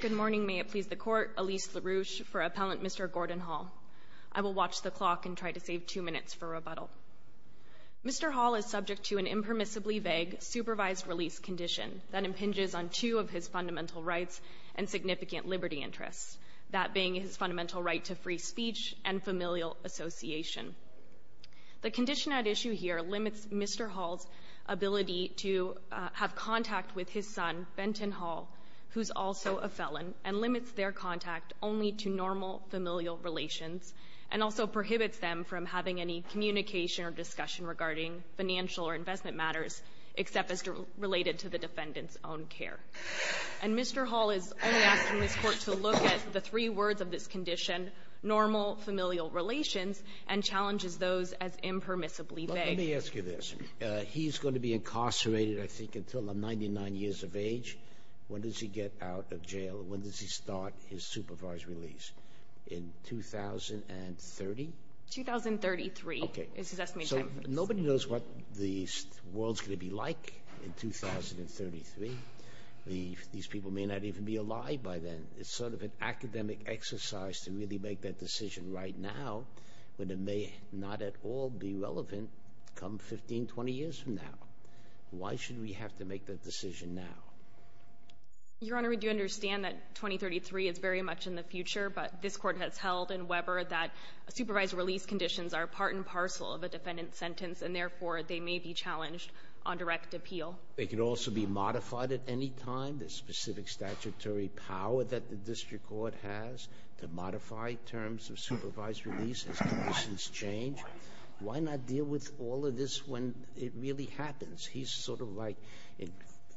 Good morning, may it please the Court, Elise LaRouche for Appellant Mr. Gordon Hall. I will watch the clock and try to save two minutes for rebuttal. Mr. Hall is subject to an impermissibly vague supervised release condition that impinges on two of his fundamental rights and significant liberty interests, that being his fundamental right to free speech and familial association. The condition at issue here limits Mr. Hall's ability to have contact with his son, Benton Hall, who's also a felon, and limits their contact only to normal familial relations, and also prohibits them from having any communication or discussion regarding financial or investment matters except as related to the defendant's own care. And Mr. Hall is only asking this Court to look at the three words of this condition, normal familial relations, and challenges those as impermissibly vague. Let me ask you this. He's going to be incarcerated, I think, until I'm 99 years of age. When does he get out of jail? When does he start his supervised release? In 2030? 2033 is his estimated time. So nobody knows what the world's going to be like in 2033. These people may not even be alive by then. It's sort of an academic exercise to really make that decision right now, when it may not at all be relevant come 15, 20 years from now. Why should we have to make that decision now? Your Honor, we do understand that 2033 is very much in the future, but this Court has held in Weber that supervised release conditions are part and parcel of a defendant's sentence, and therefore they may be challenged on direct appeal. They could also be modified at any time. There's specific statutory power that the District Court has to modify terms of supervised release as conditions change. Why not deal with all of this when it really happens? He's sort of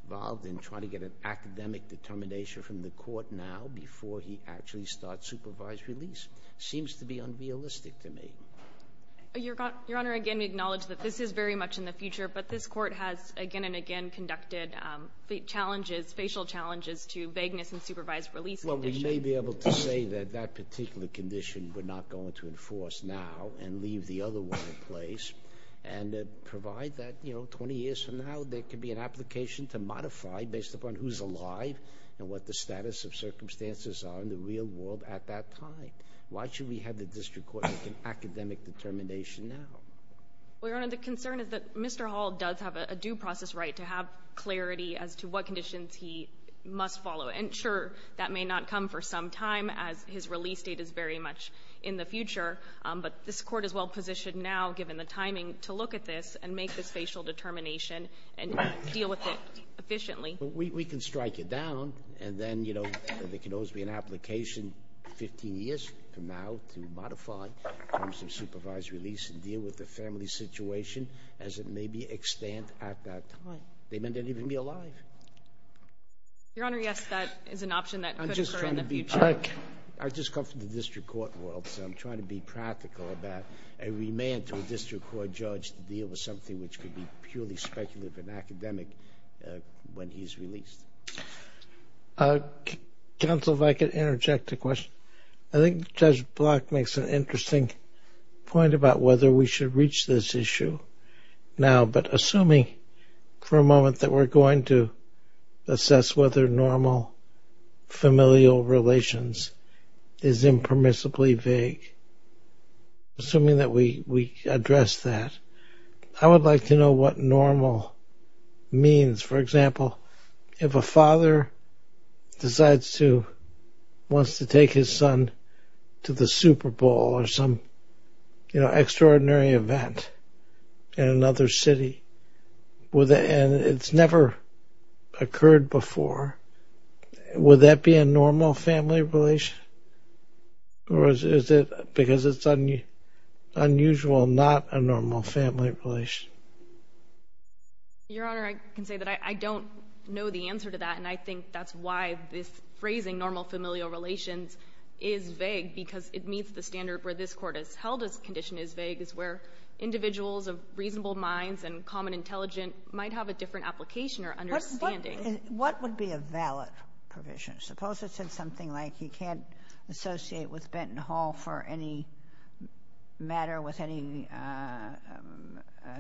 involved in trying to get an academic determination from the Court now before he actually starts supervised release. It seems to be unrealistic to me. Your Honor, again, we acknowledge that this is very much in the future, but this Court has again and again conducted facial challenges to vagueness in supervised release conditions. Well, we may be able to say that that particular condition we're not going to enforce now and leave the other one in place and provide that 20 years from now there could be an application to modify based upon who's alive and what the status of circumstances are in the real world at that time. Why should we have the District Court make an academic determination now? Well, Your Honor, the concern is that Mr. Hall does have a due process right to have clarity as to what conditions he must follow. And sure, that may not come for some time as his release date is very much in the future, but this Court is well positioned now, given the timing, to look at this and make this facial determination and deal with it efficiently. We can strike it down, and then, you know, there can always be an application 15 years from now to modify some supervised release and deal with the family situation as it may be extant at that time. They may not even be alive. Your Honor, yes, that is an option that could occur in the future. I just come from the District Court world, so I'm trying to be practical about a remand to a District Court judge to deal with something which could be purely speculative and academic when he's released. Counsel, if I could interject a question. I think Judge Block makes an interesting point about whether we should reach this issue now, but assuming for a moment that we're going to assess whether normal familial relations is impermissibly vague, assuming that we address that, I would like to know what normal means. For example, if a father decides to, wants to take his son to the Super Bowl or some, you know, extraordinary event in another city, and it's never occurred before, would that be a normal family relation? Or is it because it's unusual not a normal family relation? Your Honor, I can say that I don't know the answer to that, and I think that's why this phrasing, normal familial relations, is vague, because it meets the standard where this Court has held this condition is vague, is where individuals of reasonable minds and common intelligence might have a different application or understanding. What would be a valid provision? Suppose it said something like you can't associate with Benton Hall for any matter with any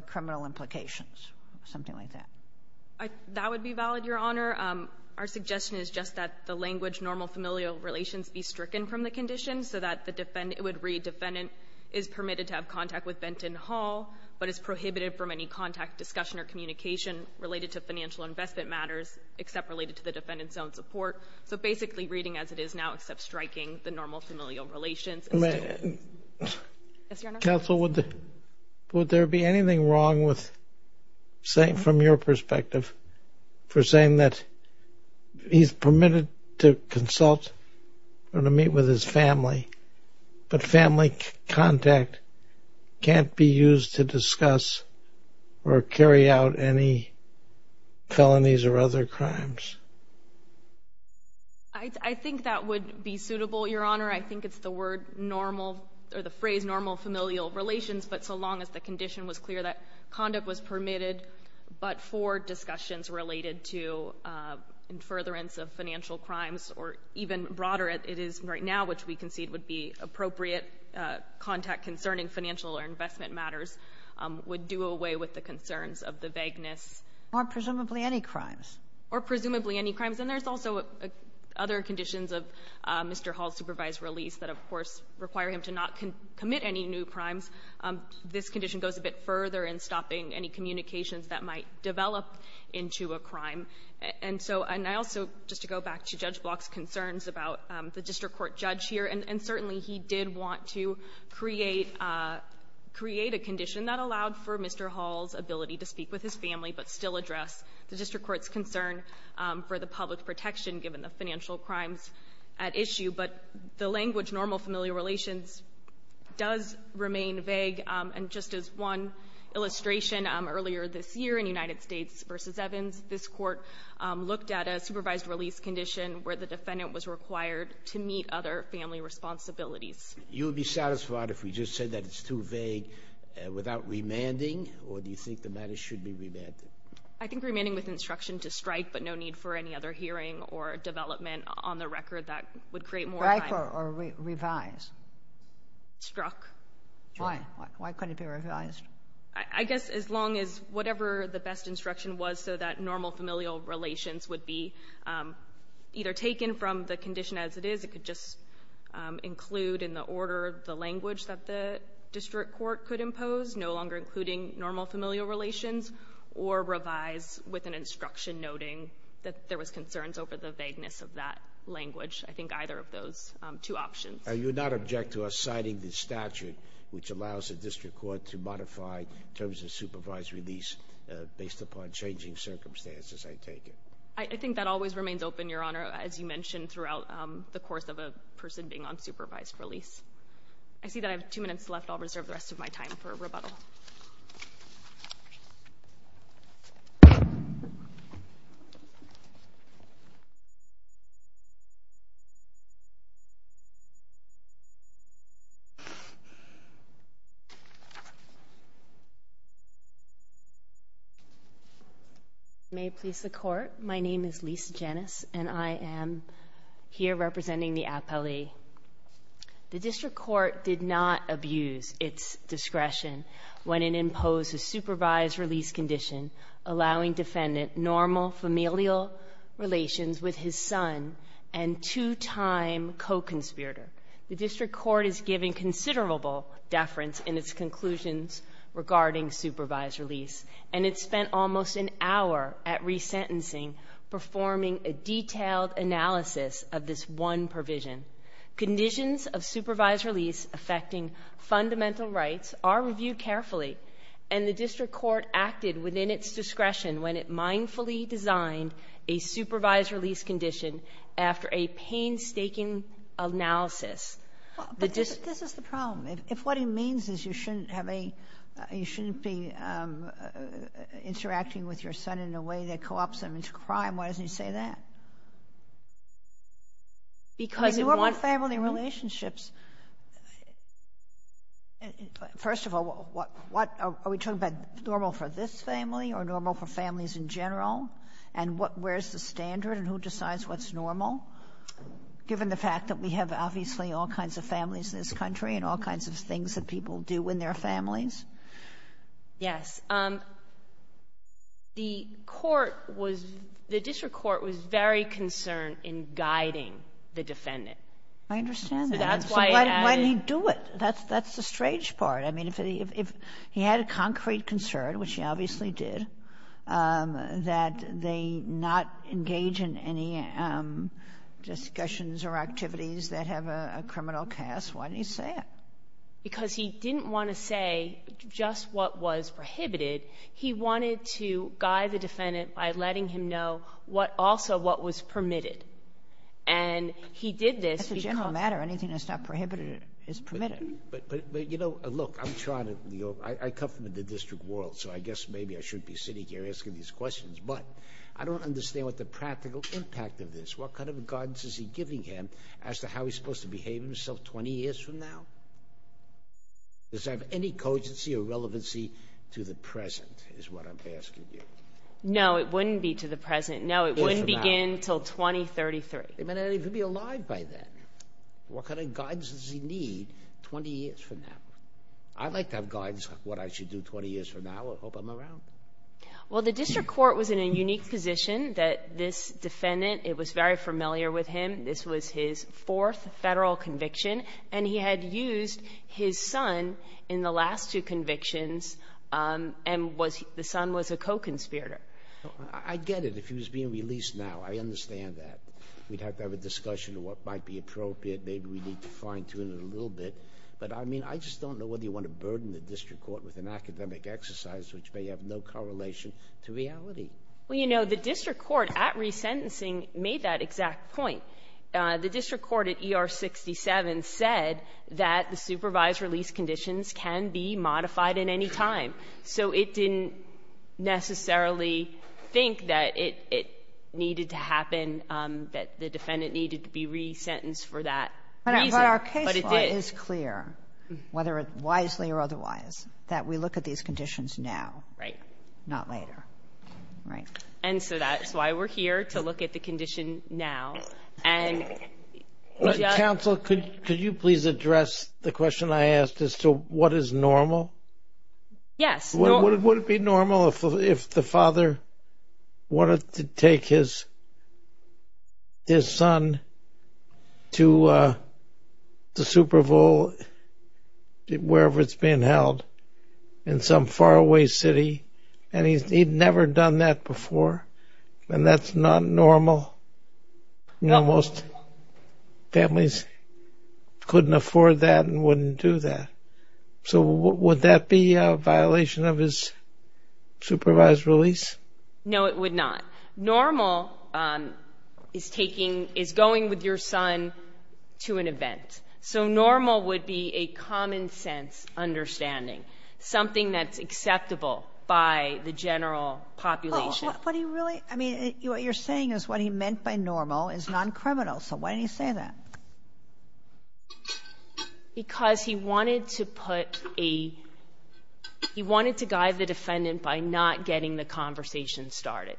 criminal implications, something like that. That would be valid, Your Honor. Our suggestion is just that the language normal familial relations be stricken from the condition so that it would read defendant is permitted to have contact with Benton Hall, but is prohibited from any contact, discussion, or communication related to financial investment matters except related to the defendant's own support. So basically reading as it is now except striking the normal familial relations. Counsel, would there be anything wrong with saying from your perspective for saying that he's permitted to consult or to meet with his family, but family contact can't be used to discuss or carry out any felonies or other crimes? I think that would be suitable, Your Honor. I think it's the phrase normal familial relations, but so long as the condition was clear that conduct was permitted, but for discussions related to furtherance of financial crimes, or even broader as it is right now, which we concede would be appropriate contact concerning financial or investment matters, would do away with the concerns of the vagueness. Or presumably any crimes. Or presumably any crimes. And there's also other conditions of Mr. Hall's supervised release that, of course, require him to not commit any new crimes. This condition goes a bit further in stopping any communications that might develop into a crime. And so, and I also, just to go back to Judge Block's concerns about the district court judge here, and certainly he did want to create a condition that allowed for Mr. Hall's ability to speak with his family, but still address the district court's concern for the public protection given the financial crimes at issue. But the language normal familial relations does remain vague. And just as one illustration earlier this year in United States v. Evans, this court looked at a supervised release condition where the defendant was required to meet other family responsibilities. You would be satisfied if we just said that it's too vague without remanding? Or do you think the matter should be remanded? I think remanding with instruction to strike, but no need for any other hearing or development on the record. That would create more time. Strike or revise? Struck. Why? Why couldn't it be revised? I guess as long as whatever the best instruction was so that normal familial relations would be either taken from the condition as it is, it could just include in the order the language that the district court could impose, no longer including normal familial relations, or revise with an instruction noting that there was concerns over the vagueness of that language. I think either of those two options. You would not object to us citing the statute which allows the district court to modify terms of supervised release based upon changing circumstances, I take it? I think that always remains open, Your Honor, as you mentioned throughout the course of a person being on supervised release. I see that I have two minutes left. I'll reserve the rest of my time for rebuttal. May it please the court. My name is Lisa Janice, and I am here representing the appellee. The district court did not abuse its discretion when it imposed a supervised release condition, allowing defendant normal familial relations with his son and two-time co-conspirator. The district court is giving considerable deference in its conclusions regarding supervised release, and it spent almost an hour at resentencing performing a detailed analysis of this one provision. Conditions of supervised release affecting fundamental rights are reviewed carefully, and the district court acted within its discretion when it mindfully designed a supervised release condition after a painstaking analysis. But this is the problem. If what he means is you shouldn't be interacting with your son in a way that co-ops him into crime, why doesn't he say that? Because in one family relationships, first of all, are we talking about normal for this family or normal for families in general, and where's the standard and who decides what's normal, given the fact that we have obviously all kinds of families in this country and all kinds of things that people do in their families? Yes. The court was, the district court was very concerned in guiding the defendant. I understand that. So that's why he added... Why didn't he do it? That's the strange part. I mean, if he had a concrete concern, which he obviously did, that they not engage in any discussions or activities that have a criminal cast, why didn't he say it? Because he didn't want to say just what was prohibited. He wanted to guide the defendant by letting him know what also what was permitted. And he did this because... That's a general matter. Anything that's not prohibited is permitted. But, you know, look, I'm trying to, you know, I come from the district world, so I guess maybe I shouldn't be sitting here asking these questions, but I don't understand what the practical impact of this, what kind of guidance is he giving him as to how he's supposed to behave himself 20 years from now? Does that have any cogency or relevancy to the present is what I'm asking you. No, it wouldn't be to the present. No, it wouldn't begin until 2033. But he'd be alive by then. What kind of guidance does he need 20 years from now? I'd like to have guidance on what I should do 20 years from now. I hope I'm around. Well, the district court was in a unique position that this defendant, it was very familiar with him, this was his fourth federal conviction, and he had used his son in the last two convictions, and the son was a co-conspirator. I get it. If he was being released now, I understand that. We'd have to have a discussion of what might be appropriate. Maybe we need to fine-tune it a little bit. But, I mean, I just don't know whether you want to burden the district court with an academic exercise which may have no correlation to reality. Well, you know, the district court at resentencing made that exact point. The district court at ER 67 said that the supervised release conditions can be modified at any time. So it didn't necessarily think that it needed to happen, that the defendant needed to be resentenced for that reason, but it did. But our case law is clear, whether it wisely or otherwise, that we look at these conditions now, not later. And so that's why we're here, to look at the condition now. Counsel, could you please address the question I asked as to what is normal? Yes. Would it be normal if the father wanted to take his son to the Super Bowl, wherever it's being held, in some faraway city, and he'd never done that before, and that's not normal? No. Most families couldn't afford that and wouldn't do that. So would that be a violation of his supervised release? No, it would not. Normal is going with your son to an event. So normal would be a common-sense understanding, something that's acceptable by the general population. What do you really – I mean, what you're saying is what he meant by normal is non-criminal. So why did he say that? Because he wanted to put a – he wanted to guide the defendant by not getting the conversation started.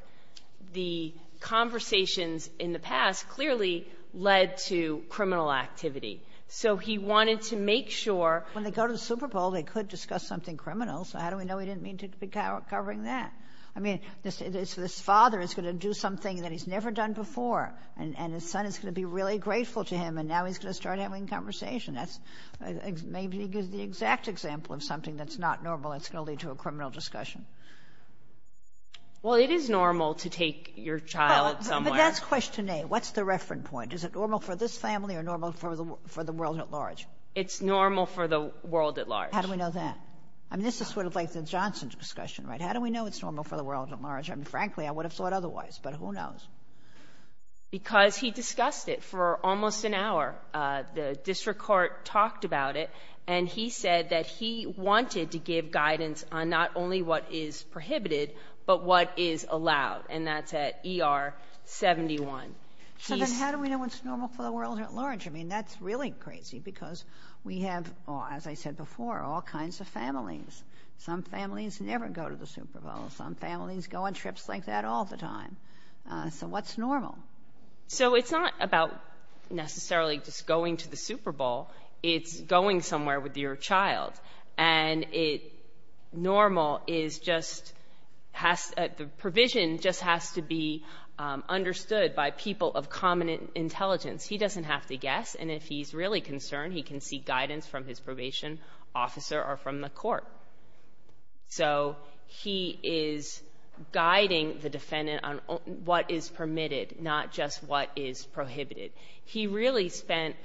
The conversations in the past clearly led to criminal activity. So he wanted to make sure – When they go to the Super Bowl, they could discuss something criminal, so how do we know he didn't mean to be covering that? I mean, this father is going to do something that he's never done before, and his son is going to be really grateful to him, and now he's going to start having conversation. That's maybe the exact example of something that's not normal that's going to lead to a criminal discussion. Well, it is normal to take your child somewhere. But that's question A. Is it normal for this family or normal for the world at large? It's normal for the world at large. How do we know that? I mean, this is sort of like the Johnson discussion, right? How do we know it's normal for the world at large? I mean, frankly, I would have thought otherwise, but who knows? Because he discussed it for almost an hour. The district court talked about it, and he said that he wanted to give guidance on not only what is prohibited but what is allowed, and that's at ER 71. So then how do we know it's normal for the world at large? I mean, that's really crazy because we have, as I said before, all kinds of families. Some families never go to the Super Bowl. Some families go on trips like that all the time. So what's normal? So it's not about necessarily just going to the Super Bowl. It's going somewhere with your child, and normal is just the provision just has to be understood by people of common intelligence. He doesn't have to guess, and if he's really concerned, he can seek guidance from his probation officer or from the court. So he is guiding the defendant on what is permitted, not just what is prohibited. He really spent,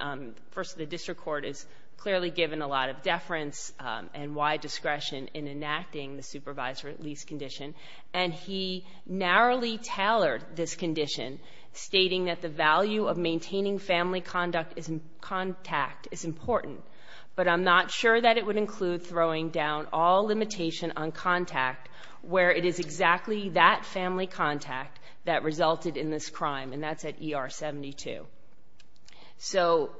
first, the district court has clearly given a lot of deference and wide discretion in enacting the supervisory release condition, and he narrowly tailored this condition, stating that the value of maintaining family contact is important, but I'm not sure that it would include throwing down all limitation on contact where it is exactly that family contact that resulted in this crime, and that's at ER 72. So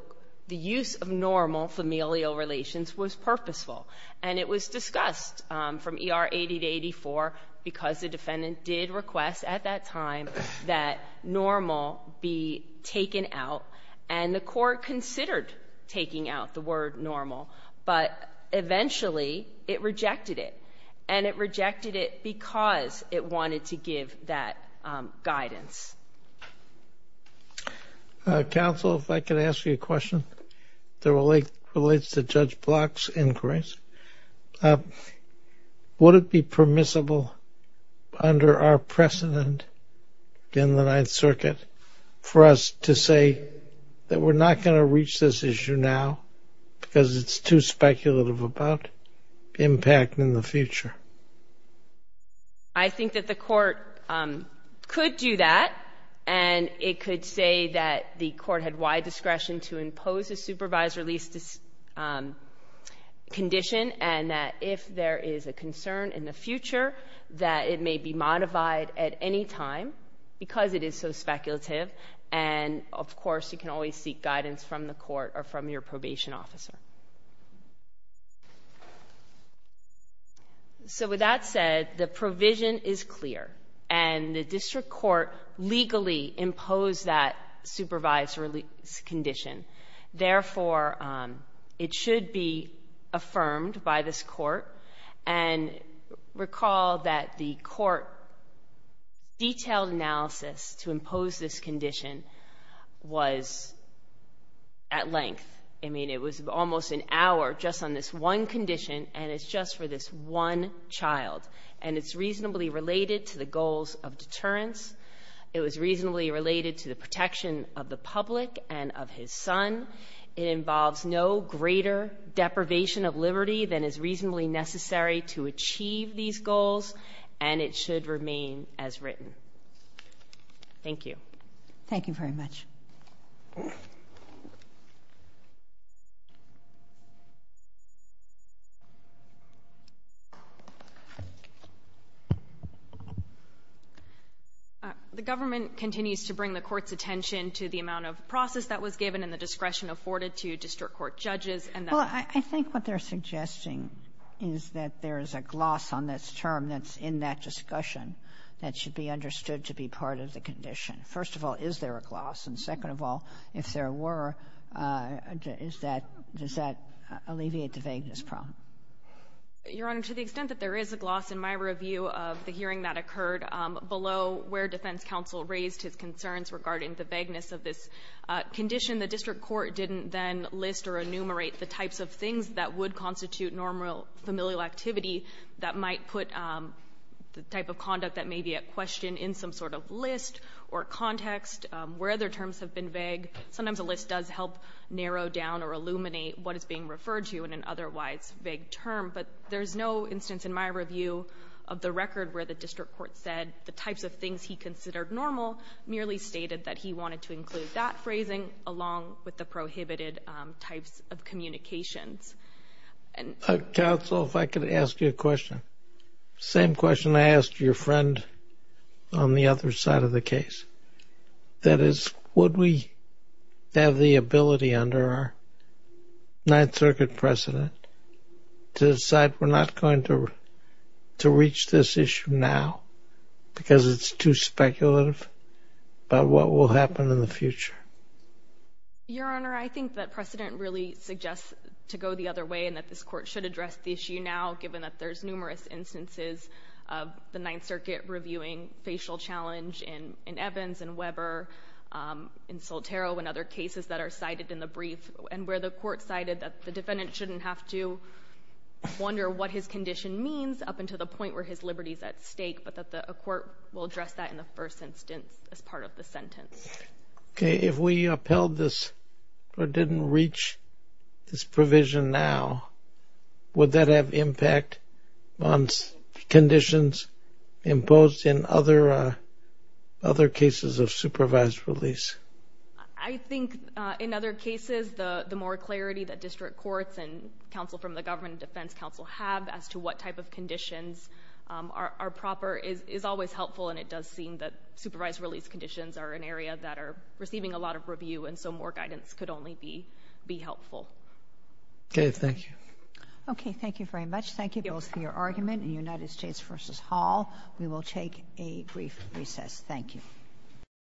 the use of normal familial relations was purposeful, and it was discussed from ER 80 to 84 because the defendant did request at that time that normal be taken out, and the court considered taking out the word normal, but eventually it rejected it, and it rejected it because it wanted to give that guidance. Counsel, if I could ask you a question that relates to Judge Block's inquiries. Would it be permissible under our precedent in the Ninth Circuit for us to say that we're not going to reach this issue now because it's too speculative about impact in the future? I think that the court could do that, and it could say that the court had wide discretion to impose a supervisory release condition and that if there is a concern in the future that it may be modified at any time because it is so speculative, and, of course, you can always seek guidance from the court or from your probation officer. So with that said, the provision is clear, and the district court legally imposed that supervisory release condition. Therefore, it should be affirmed by this court, and recall that the court detailed analysis to impose this condition was at length. I mean, it was almost an hour just on this one condition, and it's just for this one child, and it's reasonably related to the goals of deterrence. It was reasonably related to the protection of the public and of his son. It involves no greater deprivation of liberty than is reasonably necessary to achieve these goals, and it should remain as written. Thank you. Thank you very much. The government continues to bring the court's attention to the amount of process that was given and the discretion afforded to district court judges, and that's why. Well, I think what they're suggesting is that there is a gloss on this term that's that should be understood to be part of the condition. First of all, is there a gloss? And second of all, if there were, is that does that alleviate the vagueness problem? Your Honor, to the extent that there is a gloss in my review of the hearing that occurred below where defense counsel raised his concerns regarding the vagueness of this condition, the district court didn't then list or enumerate the types of things that would constitute normal familial activity that might put the type of conduct that may be at question in some sort of list or context where other terms have been vague. Sometimes a list does help narrow down or illuminate what is being referred to in an otherwise vague term, but there's no instance in my review of the record where the district court said the types of things he considered normal merely stated that he wanted to include that phrasing along with the prohibited types of communications. Counsel, if I could ask you a question. Same question I asked your friend on the other side of the case. That is, would we have the ability under our Ninth Circuit precedent to decide we're not going to reach this issue now because it's too speculative about what will happen in the future? Your Honor, I think that precedent really suggests to go the other way and that this court should address the issue now given that there's numerous instances of the Ninth Circuit reviewing facial challenge in Evans and Weber, in Soltero and other cases that are cited in the brief and where the court cited that the defendant shouldn't have to wonder what his condition means up until the point where his liberty is at stake, but that a court will address that in the first instance as part of the sentence. Okay, if we upheld this or didn't reach this provision now, would that have impact on conditions imposed in other cases of supervised release? I think in other cases, the more clarity that district courts and counsel from the government and defense counsel have as to what type of conditions are proper is always helpful and it does seem that supervised release conditions are an area that are receiving a lot of review and so more guidance could only be helpful. Okay, thank you. Okay, thank you very much. Thank you both for your argument in United States v. Hall. We will take a brief recess. Thank you.